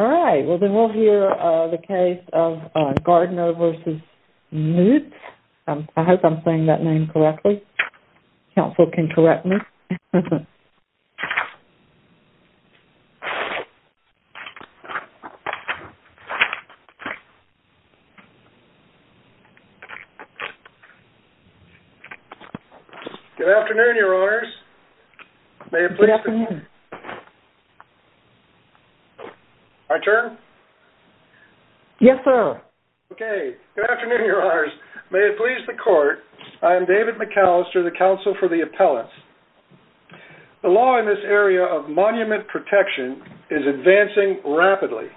Alright, well then we'll hear the case of Gardner v. Mutz. I hope I'm saying that name correctly. Counsel can correct me. Good afternoon, your honors. Good afternoon. My turn? Yes, sir. Okay, good afternoon, your honors. May it please the court, I am David McAllister, the counsel for the appellants. The law in this area of monument protection is advancing rapidly.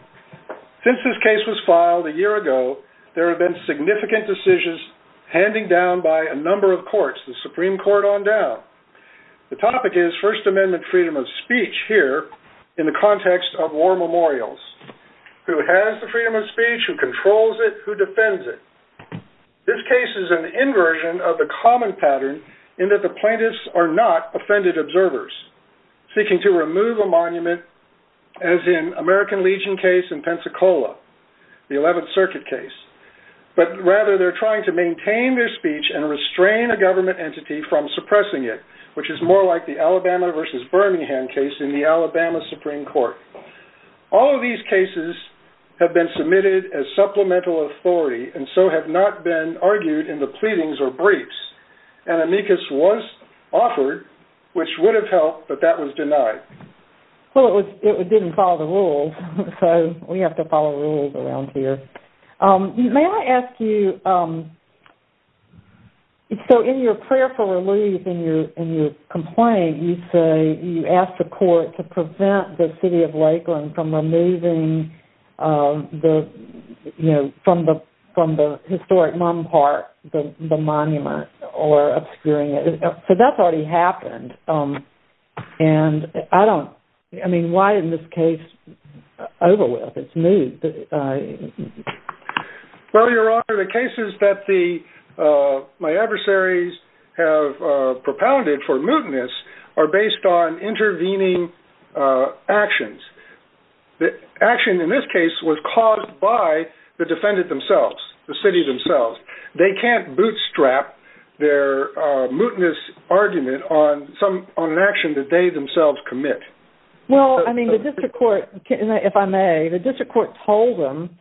Since this case was filed a year ago, there have been significant decisions handed down by a number of courts, the Supreme Court on down. The topic is First Amendment freedom of speech here in the context of war memorials. Who has the freedom of speech? Who controls it? Who defends it? This case is an inversion of the common pattern in that the plaintiffs are not offended observers. Seeking to remove a monument as in American Legion case in Pensacola, the 11th Circuit case. But rather they're trying to maintain their speech and restrain a government entity from suppressing it, which is more like the Alabama v. Birmingham case in the Alabama Supreme Court. All of these cases have been submitted as supplemental authority and so have not been argued in the pleadings or briefs. An amicus was offered, which would have helped, but that was denied. Well, it didn't follow the rules, so we have to follow rules around here. May I ask you... So in your prayer for relief in your complaint, you say you asked the court to prevent the city of Lakeland from removing the, you know, from the historic Mon Park, the monument, or obscuring it. So that's already happened, and I don't... I mean, why in this case over with? It's moved. Well, Your Honor, the cases that my adversaries have propounded for mootness are based on intervening actions. The action in this case was caused by the defendant themselves, the city themselves. They can't bootstrap their mootness argument on an action that they themselves commit. Well, I mean, the district court, if I may, the district court told them,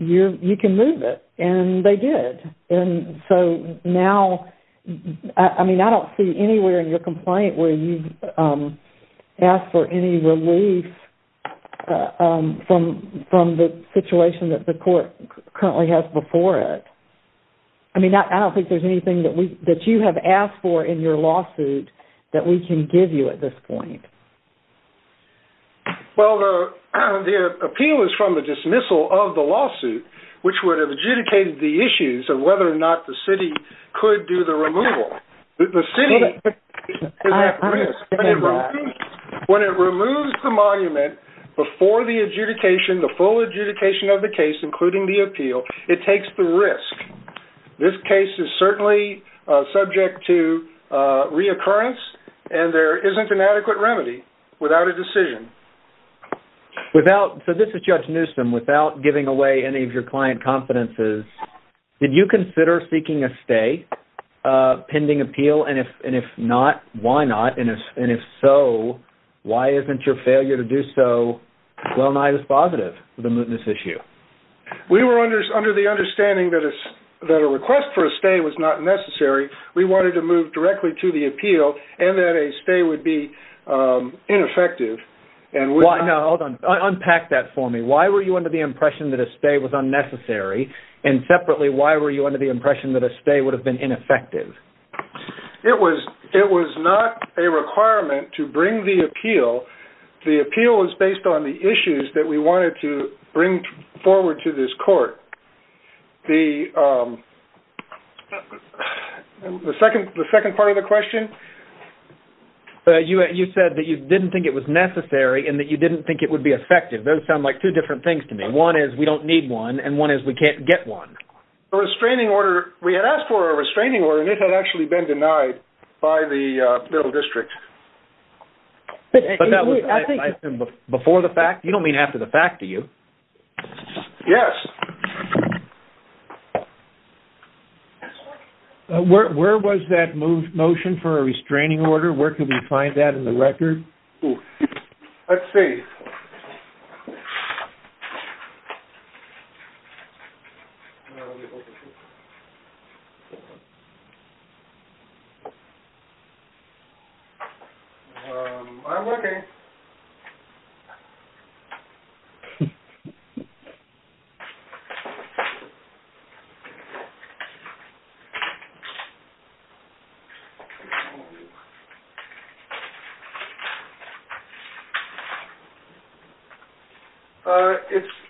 you can move it, and they did. And so now, I mean, I don't see anywhere in your complaint where you've asked for any relief from the situation that the court currently has before it. I mean, I don't think there's anything that you have asked for in your lawsuit that we can give you at this point. Well, the appeal is from the dismissal of the lawsuit, which would have adjudicated the issues of whether or not the city could do the removal. The city is at risk. When it removes the monument before the adjudication, the full adjudication of the case, including the appeal, it takes the risk. This case is certainly subject to reoccurrence, and there isn't an adequate remedy without a decision. So this is Judge Newsom. Without giving away any of your client confidences, did you consider seeking a stay pending appeal? And if not, why not? And if so, why isn't your failure to do so well-nigh dispositive of the mootness issue? We were under the understanding that a request for a stay was not necessary. We wanted to move directly to the appeal and that a stay would be ineffective. Now, hold on. Unpack that for me. Why were you under the impression that a stay was unnecessary? And separately, why were you under the impression that a stay would have been ineffective? It was not a requirement to bring the appeal. The appeal was based on the issues that we wanted to bring forward to this court. The second part of the question? You said that you didn't think it was necessary and that you didn't think it would be effective. Those sound like two different things to me. One is we don't need one, and one is we can't get one. The restraining order, we had asked for a restraining order, and it had actually been denied by the middle district. But that was before the fact? You don't mean after the fact, do you? Yes. Where was that motion for a restraining order? Where can we find that in the record? Let's see. I'm looking.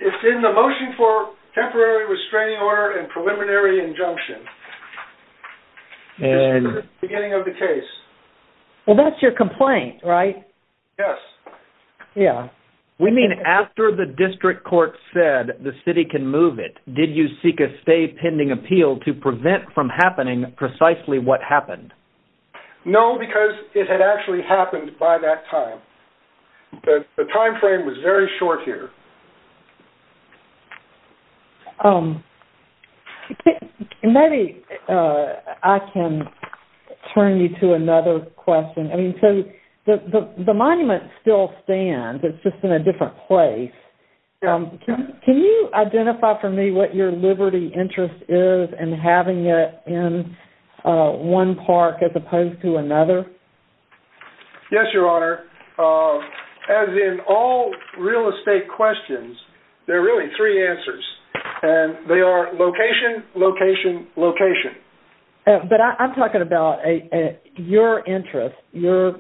It's in the motion for temporary restraining order and preliminary injunction. It's in the beginning of the case. Well, that's your complaint, right? Yes. We mean after the district court said the city can move it. Did you seek a stay pending appeal to prevent from happening precisely what happened? No, because it had actually happened by that time. The timeframe was very short here. Maybe I can turn you to another question. The monument still stands. It's just in a different place. Can you identify for me what your liberty interest is in having it in one park as opposed to another? Yes, Your Honor. As in all real estate questions, there are really three answers. They are location, location, location. But I'm talking about your interest, your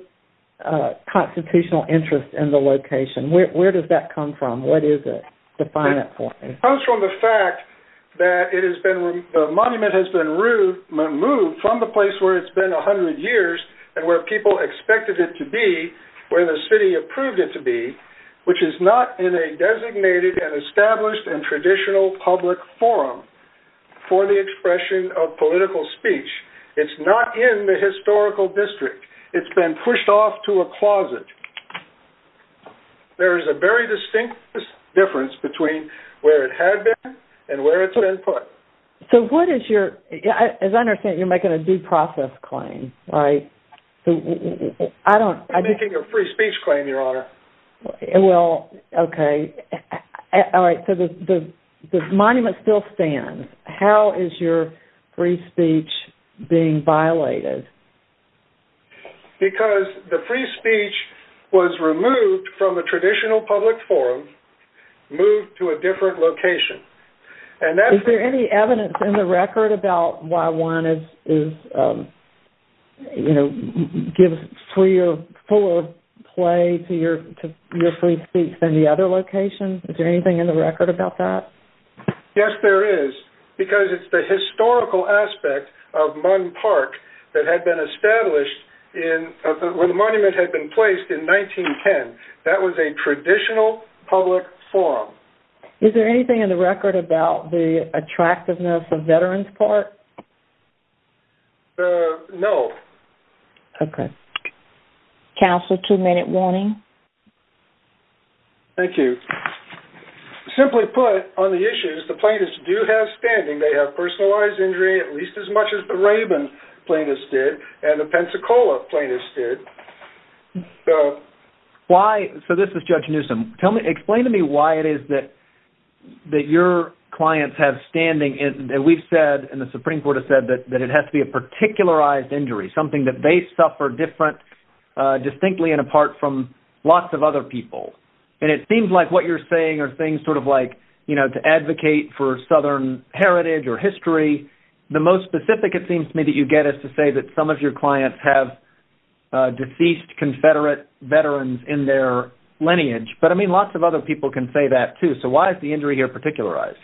constitutional interest in the location. Where does that come from? What is it? Define that for me. It comes from the fact that the monument has been removed from the place where it's been 100 years and where people expected it to be, where the city approved it to be, which is not in a designated and established and traditional public forum for the expression of political speech. It's not in the historical district. It's been pushed off to a closet. There is a very distinct difference between where it had been and where it's been put. As I understand it, you're making a due process claim, right? I'm making a free speech claim, Your Honor. Okay. The monument still stands. How is your free speech being violated? Because the free speech was removed from a traditional public forum, moved to a different location. Is there any evidence in the record about why one gives fuller play to your free speech than the other location? Is there anything in the record about that? Yes, there is, because it's the historical aspect of Munn Park that had been established where the monument had been placed in 1910. That was a traditional public forum. Is there anything in the record about the attractiveness of Veterans Park? No. Okay. Counsel, two-minute warning. Thank you. Simply put, on the issues, the plaintiffs do have standing. They have personalized injury, at least as much as the Rabin plaintiffs did and the Pensacola plaintiffs did. So this is Judge Newsom. Explain to me why it is that your clients have standing. We've said and the Supreme Court has said that it has to be a particularized injury, something that they suffered distinctly and apart from lots of other people. It seems like what you're saying are things sort of like to advocate for Southern heritage or history. The most specific, it seems to me, that you get is to say that some of your clients have deceased Confederate Veterans in their lineage. But, I mean, lots of other people can say that, too. So why is the injury here particularized?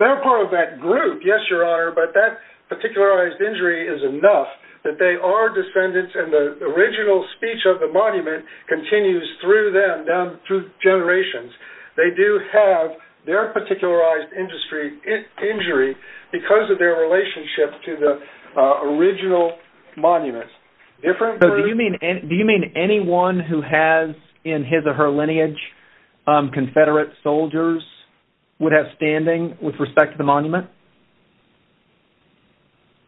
They're part of that group, yes, Your Honor, but that particularized injury is enough that they are descendants and the original speech of the monument continues through them, down through generations. They do have their particularized injury because of their relationship to the original monument. So do you mean anyone who has in his or her lineage Confederate soldiers would have standing with respect to the monument?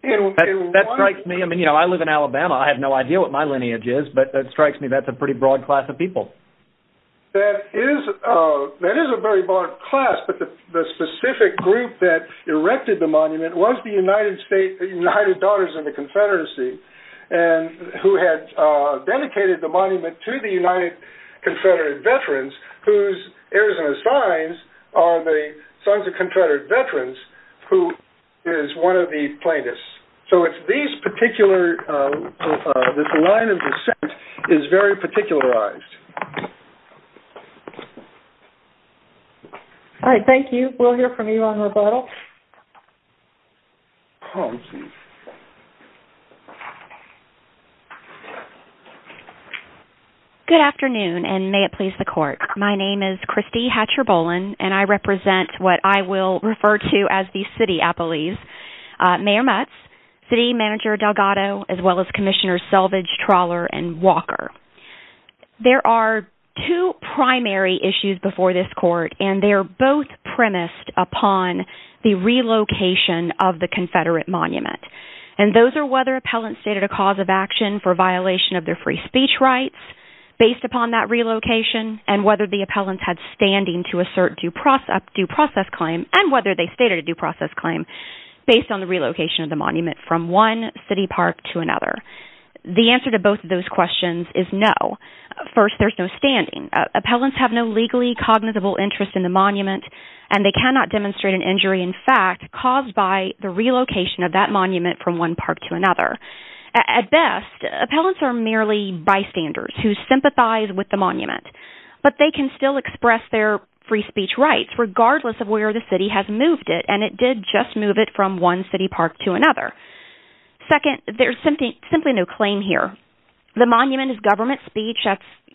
That strikes me. I mean, you know, I live in Alabama. I have no idea what my lineage is, but that strikes me that's a pretty broad class of people. That is a very broad class, but the specific group that erected the monument was the United States, the United Daughters of the Confederacy, who had dedicated the monument to the United Confederate Veterans, whose heirs in the signs are the Sons of Confederate Veterans, who is one of the plaintiffs. So it's these particular, this line of descent is very particularized. All right, thank you. We'll hear from you on rebuttal. Good afternoon, and may it please the Court. My name is Christy Hatcher-Bolen, and I represent what I will refer to as the City Appellees. Mayor Mutz, City Manager Delgado, as well as Commissioners Selvidge, Trawler, and Walker. There are two primary issues before this Court, and they are both premised upon the relocation of the Confederate monument. And those are whether appellants stated a cause of action for violation of their free speech rights, based upon that relocation, and whether the appellants had standing to assert due process claim, and whether they stated a due process claim, based on the relocation of the monument from one city park to another. The answer to both of those questions is no. First, there's no standing. Appellants have no legally cognizable interest in the monument, and they cannot demonstrate an injury in fact caused by the relocation of that monument from one park to another. At best, appellants are merely bystanders who sympathize with the monument. But they can still express their free speech rights, regardless of where the city has moved it, and it did just move it from one city park to another. Second, there's simply no claim here. The monument is government speech.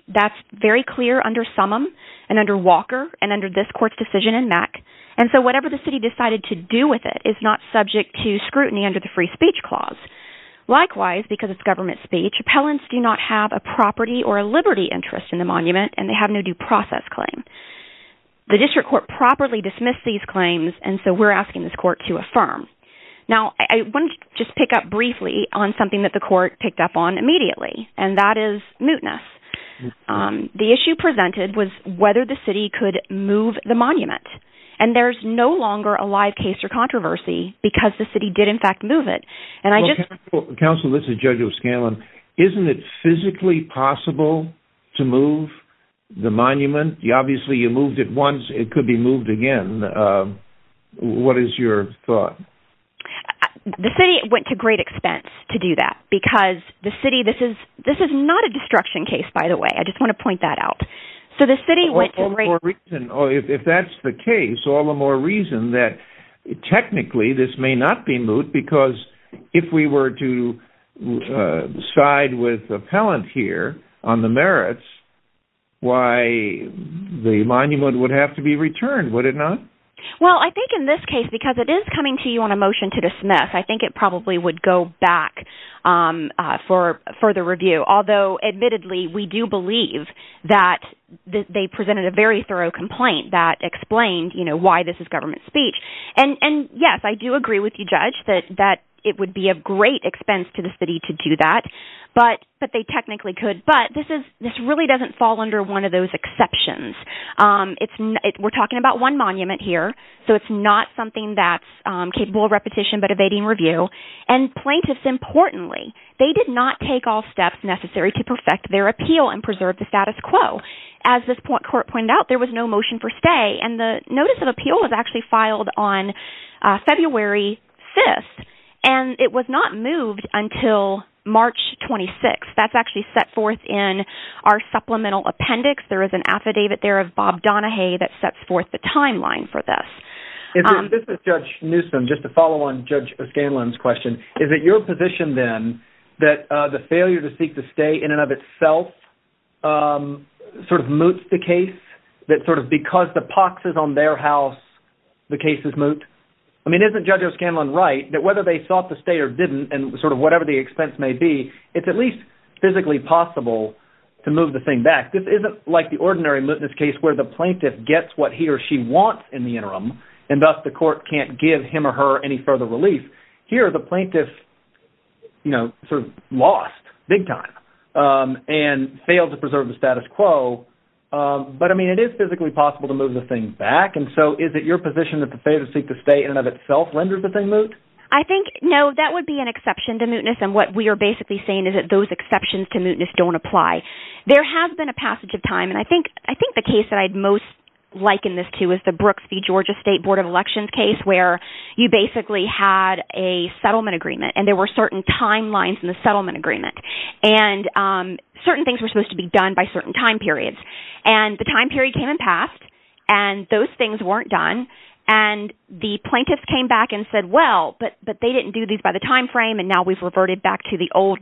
That's very clear under Summum, and under Walker, and under this Court's decision in MAC. And so whatever the city decided to do with it is not subject to scrutiny under the Free Speech Clause. Likewise, because it's government speech, appellants do not have a property or a liberty interest in the monument, and they have no due process claim. The District Court properly dismissed these claims, and so we're asking this Court to affirm. Now, I want to just pick up briefly on something that the Court picked up on immediately, and that is mootness. The issue presented was whether the city could move the monument. And there's no longer a live case or controversy because the city did in fact move it. Counsel, this is Judge O'Scanlan. Isn't it physically possible to move the monument? Obviously, you moved it once. It could be moved again. What is your thought? The city went to great expense to do that, because the city – this is not a destruction case, by the way. I just want to point that out. If that's the case, all the more reason that technically this may not be moot, because if we were to side with the appellant here on the merits, why the monument would have to be returned, would it not? Well, I think in this case, because it is coming to you on a motion to dismiss, I think it probably would go back for further review. Although, admittedly, we do believe that they presented a very thorough complaint that explained why this is government speech. And yes, I do agree with you, Judge, that it would be of great expense to the city to do that. But they technically could. But this really doesn't fall under one of those exceptions. We're talking about one monument here, so it's not something that's capable of repetition but evading review. And plaintiffs, importantly, they did not take all steps necessary to perfect their appeal and preserve the status quo. As this court pointed out, there was no motion for stay, and the notice of appeal was actually filed on February 5th. And it was not moved until March 26th. That's actually set forth in our supplemental appendix. There is an affidavit there of Bob Donahue that sets forth the timeline for this. This is Judge Newsom, just to follow on Judge O'Scanlan's question. Is it your position, then, that the failure to seek to stay in and of itself sort of moots the case? That sort of because the pox is on their house, the case is moot? I mean, isn't Judge O'Scanlan right that whether they sought to stay or didn't, and sort of whatever the expense may be, it's at least physically possible to move the thing back? This isn't like the ordinary mootness case where the plaintiff gets what he or she wants in the interim, and thus the court can't give him or her any further relief. Here, the plaintiff sort of lost big time and failed to preserve the status quo. But, I mean, it is physically possible to move the thing back. And so is it your position that the failure to seek to stay in and of itself renders the thing moot? I think, no, that would be an exception to mootness. And what we are basically saying is that those exceptions to mootness don't apply. There has been a passage of time, and I think the case that I'd most liken this to is the Brooks v. Georgia State Board of Elections case where you basically had a settlement agreement, and there were certain timelines in the settlement agreement. And certain things were supposed to be done by certain time periods. And the time period came and passed, and those things weren't done. And the plaintiffs came back and said, well, but they didn't do these by the time frame, and now we've reverted back to the old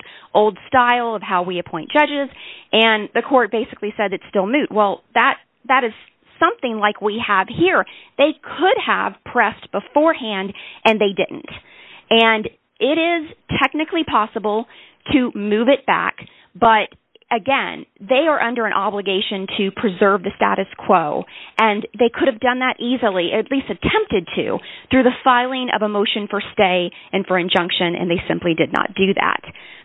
style of how we appoint judges. And the court basically said it's still moot. Well, that is something like we have here. They could have pressed beforehand, and they didn't. And it is technically possible to move it back. But, again, they are under an obligation to preserve the status quo. And they could have done that easily, at least attempted to, through the filing of a motion for stay and for injunction, and they simply did not do that.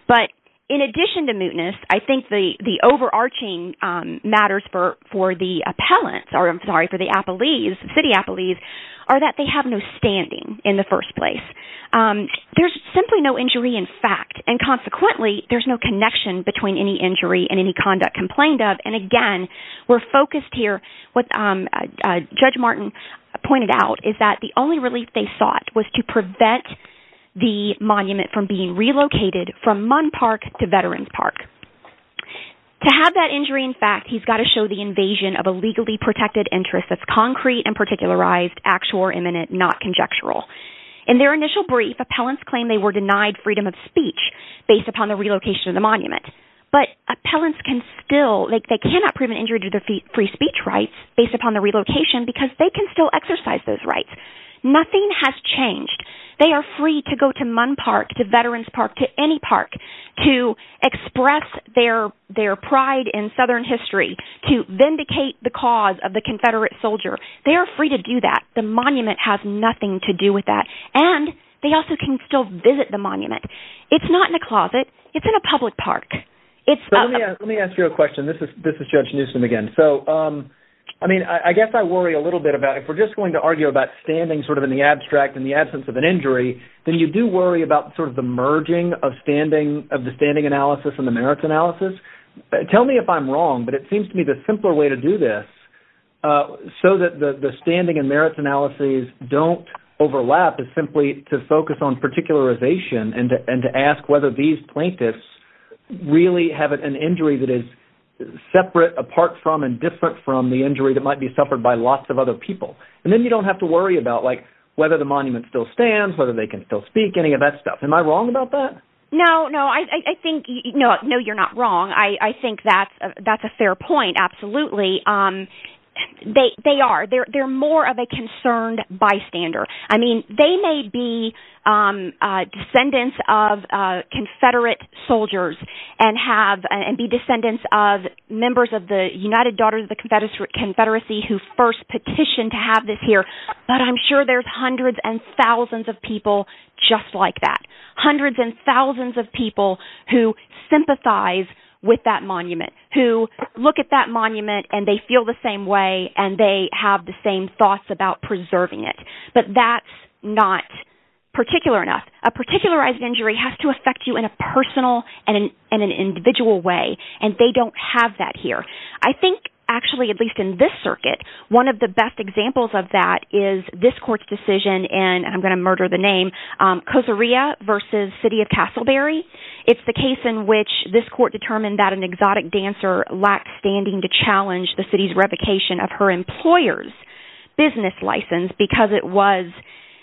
But in addition to mootness, I think the overarching matters for the appellants, or I'm sorry, for the city appellees, are that they have no standing in the first place. There's simply no injury in fact. And consequently, there's no connection between any injury and any conduct complained of. And, again, we're focused here. What Judge Martin pointed out is that the only relief they sought was to prevent the monument from being relocated from Munn Park to Veterans Park. To have that injury in fact, he's got to show the invasion of a legally protected interest that's concrete and particularized, actual or imminent, not conjectural. In their initial brief, appellants claim they were denied freedom of speech based upon the relocation of the monument. But appellants cannot prove an injury to their free speech rights based upon the relocation because they can still exercise those rights. Nothing has changed. They are free to go to Munn Park, to Veterans Park, to any park, to express their pride in Southern history, to vindicate the cause of the Confederate soldier. They are free to do that. The monument has nothing to do with that. And they also can still visit the monument. It's not in a closet. It's in a public park. Let me ask you a question. This is Judge Newsom again. So, I mean, I guess I worry a little bit about if we're just going to argue about standing sort of in the abstract in the absence of an injury, then you do worry about sort of the merging of the standing analysis and the merits analysis. Tell me if I'm wrong, but it seems to me the simpler way to do this so that the standing and merits analyses don't overlap is simply to focus on particularization and to ask whether these plaintiffs really have an injury that is separate, apart from, and different from the injury that might be suffered by lots of other people. And then you don't have to worry about, like, whether the monument still stands, whether they can still speak, any of that stuff. Am I wrong about that? No, no. I think you're not wrong. I think that's a fair point, absolutely. They are. They're more of a concerned bystander. I mean, they may be descendants of Confederate soldiers and be descendants of members of the United Daughters of the Confederacy who first petitioned to have this here, but I'm sure there's hundreds and thousands of people just like that, hundreds and thousands of people who sympathize with that monument, who look at that monument, and they feel the same way, and they have the same thoughts about preserving it. But that's not particular enough. A particularized injury has to affect you in a personal and an individual way, and they don't have that here. I think, actually, at least in this circuit, one of the best examples of that is this court's decision in, and I'm going to murder the name, Koserea v. City of Castleberry. It's the case in which this court determined that an exotic dancer lacked standing to challenge the city's revocation of her employer's business license because it was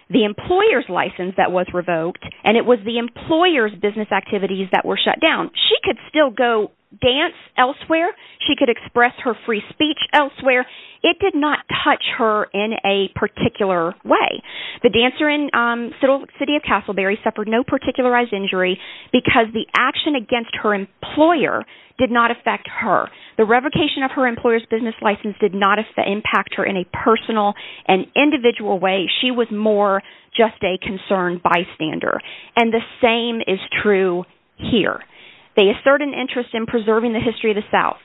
the employer's license that was revoked, and it was the employer's business activities that were shut down. She could still go dance elsewhere. She could express her free speech elsewhere. It did not touch her in a particular way. The dancer in City of Castleberry suffered no particularized injury because the action against her employer did not affect her. The revocation of her employer's business license did not impact her in a personal and individual way. She was more just a concerned bystander, and the same is true here. They assert an interest in preserving the history of the South.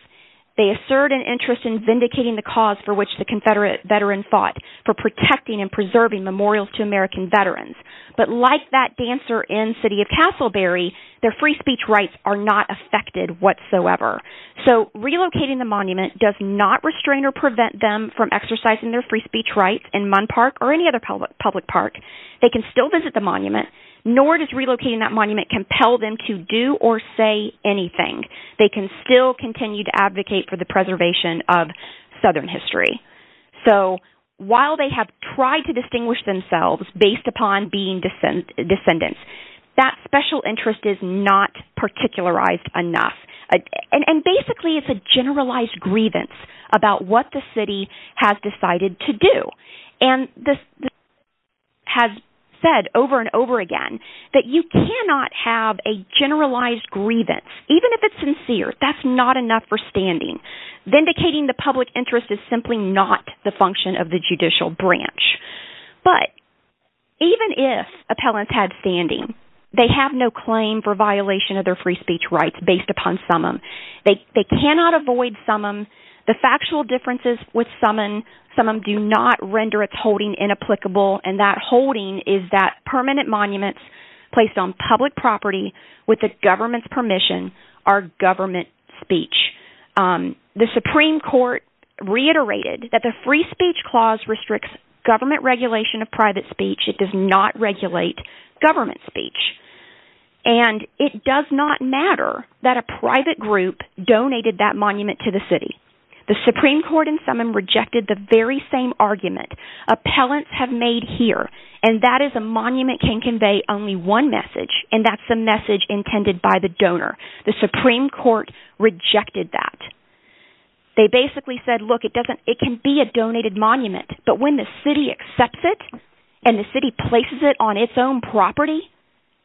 They assert an interest in vindicating the cause for which the Confederate veterans fought, for protecting and preserving memorials to American veterans. But like that dancer in City of Castleberry, their free speech rights are not affected whatsoever. So relocating the monument does not restrain or prevent them from exercising their free speech rights in Munn Park or any other public park. They can still visit the monument, nor does relocating that monument compel them to do or say anything. They can still continue to advocate for the preservation of Southern history. So while they have tried to distinguish themselves based upon being descendants, that special interest is not particularized enough. And basically it's a generalized grievance about what the city has decided to do. And the city has said over and over again that you cannot have a generalized grievance, even if it's sincere. That's not enough for standing. Vindicating the public interest is simply not the function of the judicial branch. But even if appellants had standing, they have no claim for violation of their free speech rights based upon summum. They cannot avoid summum. The factual differences with summum do not render its holding inapplicable. And that holding is that permanent monuments placed on public property with the government's permission are government speech. The Supreme Court reiterated that the free speech clause restricts government regulation of private speech. It does not regulate government speech. And it does not matter that a private group donated that monument to the city. The Supreme Court in summum rejected the very same argument appellants have made here. And that is a monument can convey only one message, and that's the message intended by the donor. The Supreme Court rejected that. They basically said, look, it can be a donated monument. But when the city accepts it and the city places it on its own property,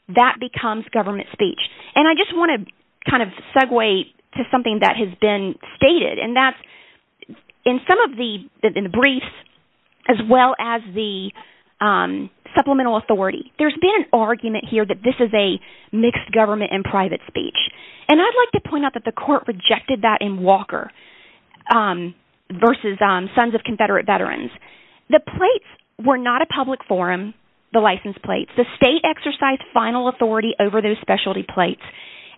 that becomes government speech. And I just want to kind of segue to something that has been stated, and that's in some of the briefs as well as the supplemental authority. There's been an argument here that this is a mixed government and private speech. And I'd like to point out that the court rejected that in Walker versus Sons of Confederate Veterans. The plates were not a public forum, the license plates. The state exercised final authority over those specialty plates.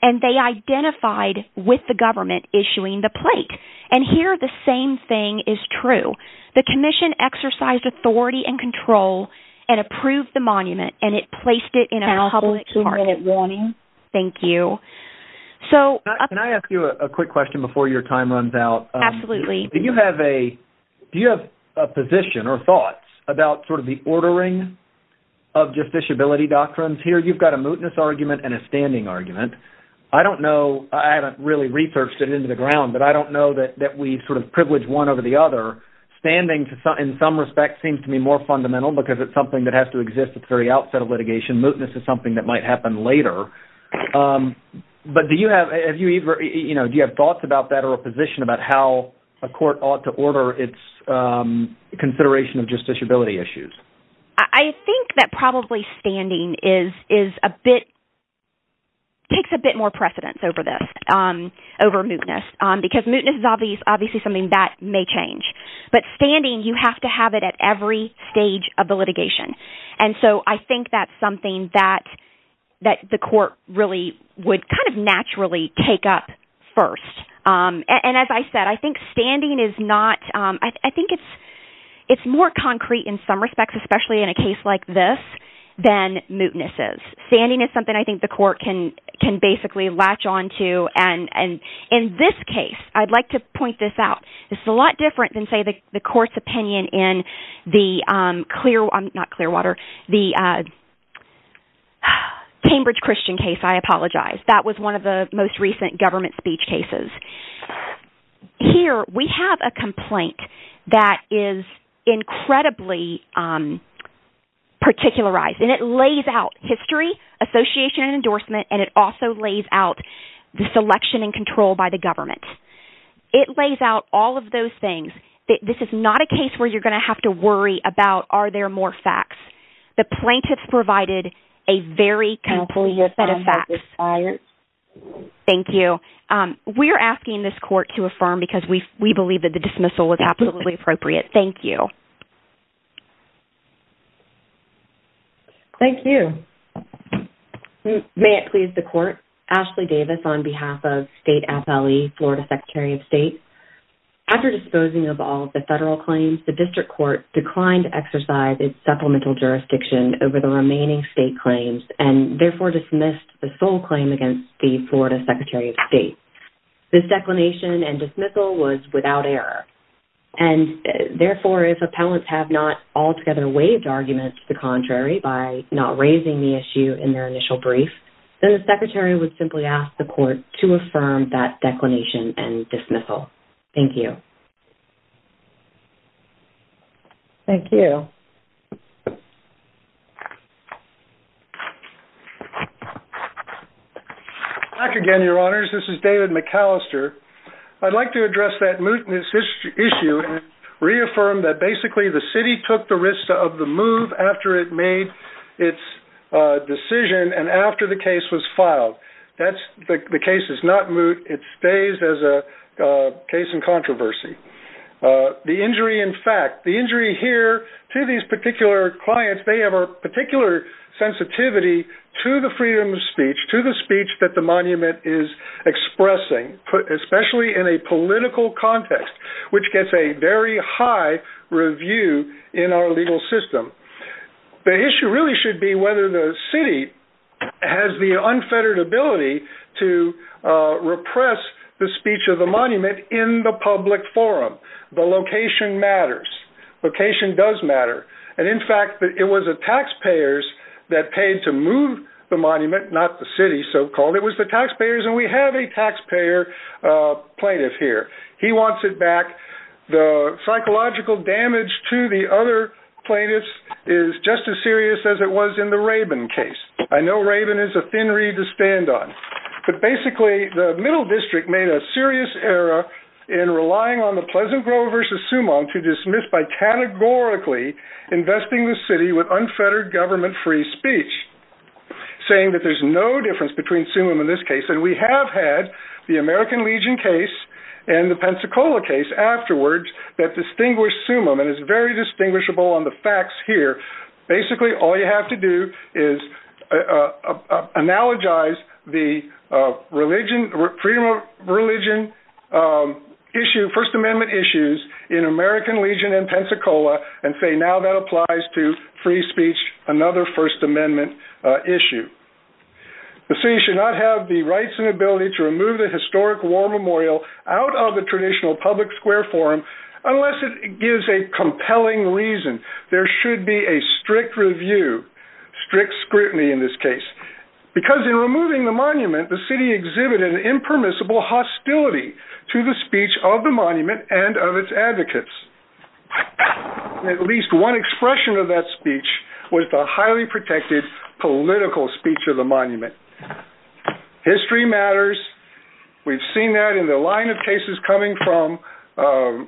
And they identified with the government issuing the plate. And here the same thing is true. The commission exercised authority and control and approved the monument, and it placed it in a public park. Thank you. Can I ask you a quick question before your time runs out? Absolutely. Do you have a position or thoughts about sort of the ordering of justiciability doctrines here? You've got a mootness argument and a standing argument. I don't know. I haven't really researched it into the ground, but I don't know that we sort of privilege one over the other. Standing, in some respects, seems to be more fundamental because it's something that has to exist at the very outset of litigation. Mootness is something that might happen later. But do you have thoughts about that or a position about how a court ought to order its consideration of justiciability issues? I think that probably standing takes a bit more precedence over this, over mootness, because mootness is obviously something that may change. But standing, you have to have it at every stage of the litigation. And so I think that's something that the court really would kind of naturally take up first. And as I said, I think standing is more concrete in some respects, especially in a case like this, than mootness is. Standing is something I think the court can basically latch on to. And in this case, I'd like to point this out. This is a lot different than, say, the court's opinion in the Cambridge Christian case. I apologize. That was one of the most recent government speech cases. Here, we have a complaint that is incredibly particularized. And it lays out history, association, and endorsement. And it also lays out the selection and control by the government. It lays out all of those things. This is not a case where you're going to have to worry about are there more facts. The plaintiff provided a very complete set of facts. Thank you. We're asking this court to affirm because we believe that the dismissal was absolutely appropriate. Thank you. Thank you. May it please the court. Ashley Davis on behalf of State FLE, Florida Secretary of State. After disposing of all of the federal claims, the district court declined to exercise its supplemental jurisdiction over the remaining state claims and therefore dismissed the sole claim against the Florida Secretary of State. This declination and dismissal was without error. And therefore, if appellants have not altogether waived arguments to the contrary by not raising the issue in their initial brief, then the secretary would simply ask the court to affirm that declination and dismissal. Thank you. Thank you. Back again, Your Honors. This is David McAllister. I'd like to address that mootness issue and reaffirm that basically the city took the risk of the move after it made its decision and after the case was filed. The case is not moot. It stays as a case in controversy. The injury in fact, the injury here to these particular clients, they have a particular sensitivity to the freedom of speech, to the speech that the monument is expressing, especially in a political context, which gets a very high review in our legal system. The issue really should be whether the city has the unfettered ability to repress the speech of the monument in the public forum. The location matters. Location does matter. And in fact, it was the taxpayers that paid to move the monument, not the city so-called. It was the taxpayers, and we have a taxpayer plaintiff here. He wants it back. The psychological damage to the other plaintiffs is just as serious as it was in the Rabin case. I know Rabin is a thin reed to stand on. But basically the middle district made a serious error in relying on the Pleasant Grove versus Summon to dismiss by categorically investing the city with unfettered government-free speech, saying that there's no difference between Summon and this case. And we have had the American Legion case and the Pensacola case afterwards that distinguished Summon and is very distinguishable on the facts here. Basically all you have to do is analogize the freedom of religion issue, First Amendment issues in American Legion and Pensacola and say now that applies to free speech, another First Amendment issue. The city should not have the rights and ability to remove the historic war memorial out of the traditional public square forum unless it gives a compelling reason. There should be a strict review, strict scrutiny in this case, because in removing the monument the city exhibited an impermissible hostility to the speech of the monument and of its advocates. At least one expression of that speech was the highly protected political speech of the monument. History matters. We've seen that in the line of cases coming from the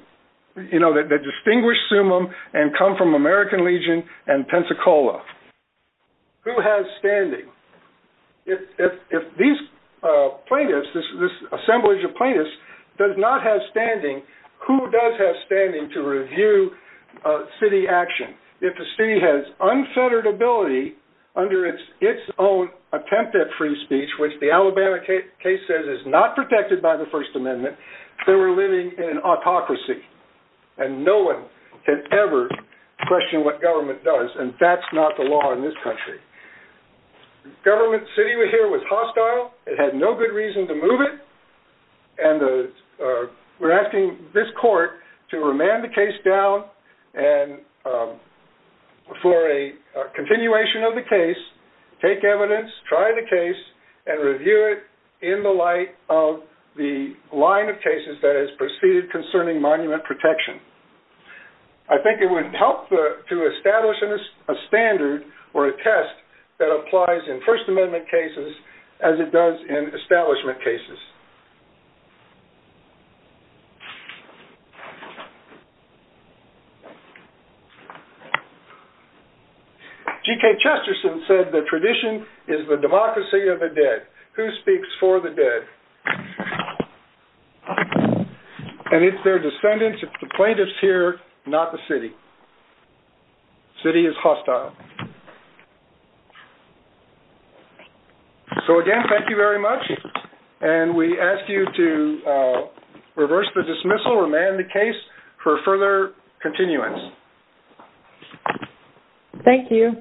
distinguished Summon and come from American Legion and Pensacola. Who has standing? If these plaintiffs, this assemblage of plaintiffs does not have standing, who does have standing to review city action? If the city has unfettered ability under its own attempt at free speech, which the Alabama case says is not protected by the First Amendment, then we're living in autocracy and no one can ever question what government does and that's not the law in this country. The government city here was hostile. It had no good reason to move it. We're asking this court to remand the case down and for a continuation of the case, take evidence, try the case, and review it in the light of the line of cases that has proceeded concerning monument protection. I think it would help to establish a standard or a test that applies in First Amendment cases as it does in establishment cases. G.K. Chesterton said the tradition is the democracy of the dead. Who speaks for the dead? And it's their descendants, it's the plaintiffs here, not the city. The city is hostile. So again, thank you very much. And we ask you to reverse the dismissal, remand the case for further continuance. Thank you.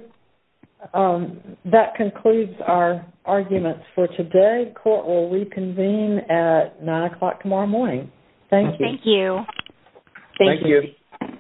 That concludes our arguments for today. Court will reconvene at 9 o'clock tomorrow morning. Thank you. Thank you. Thank you.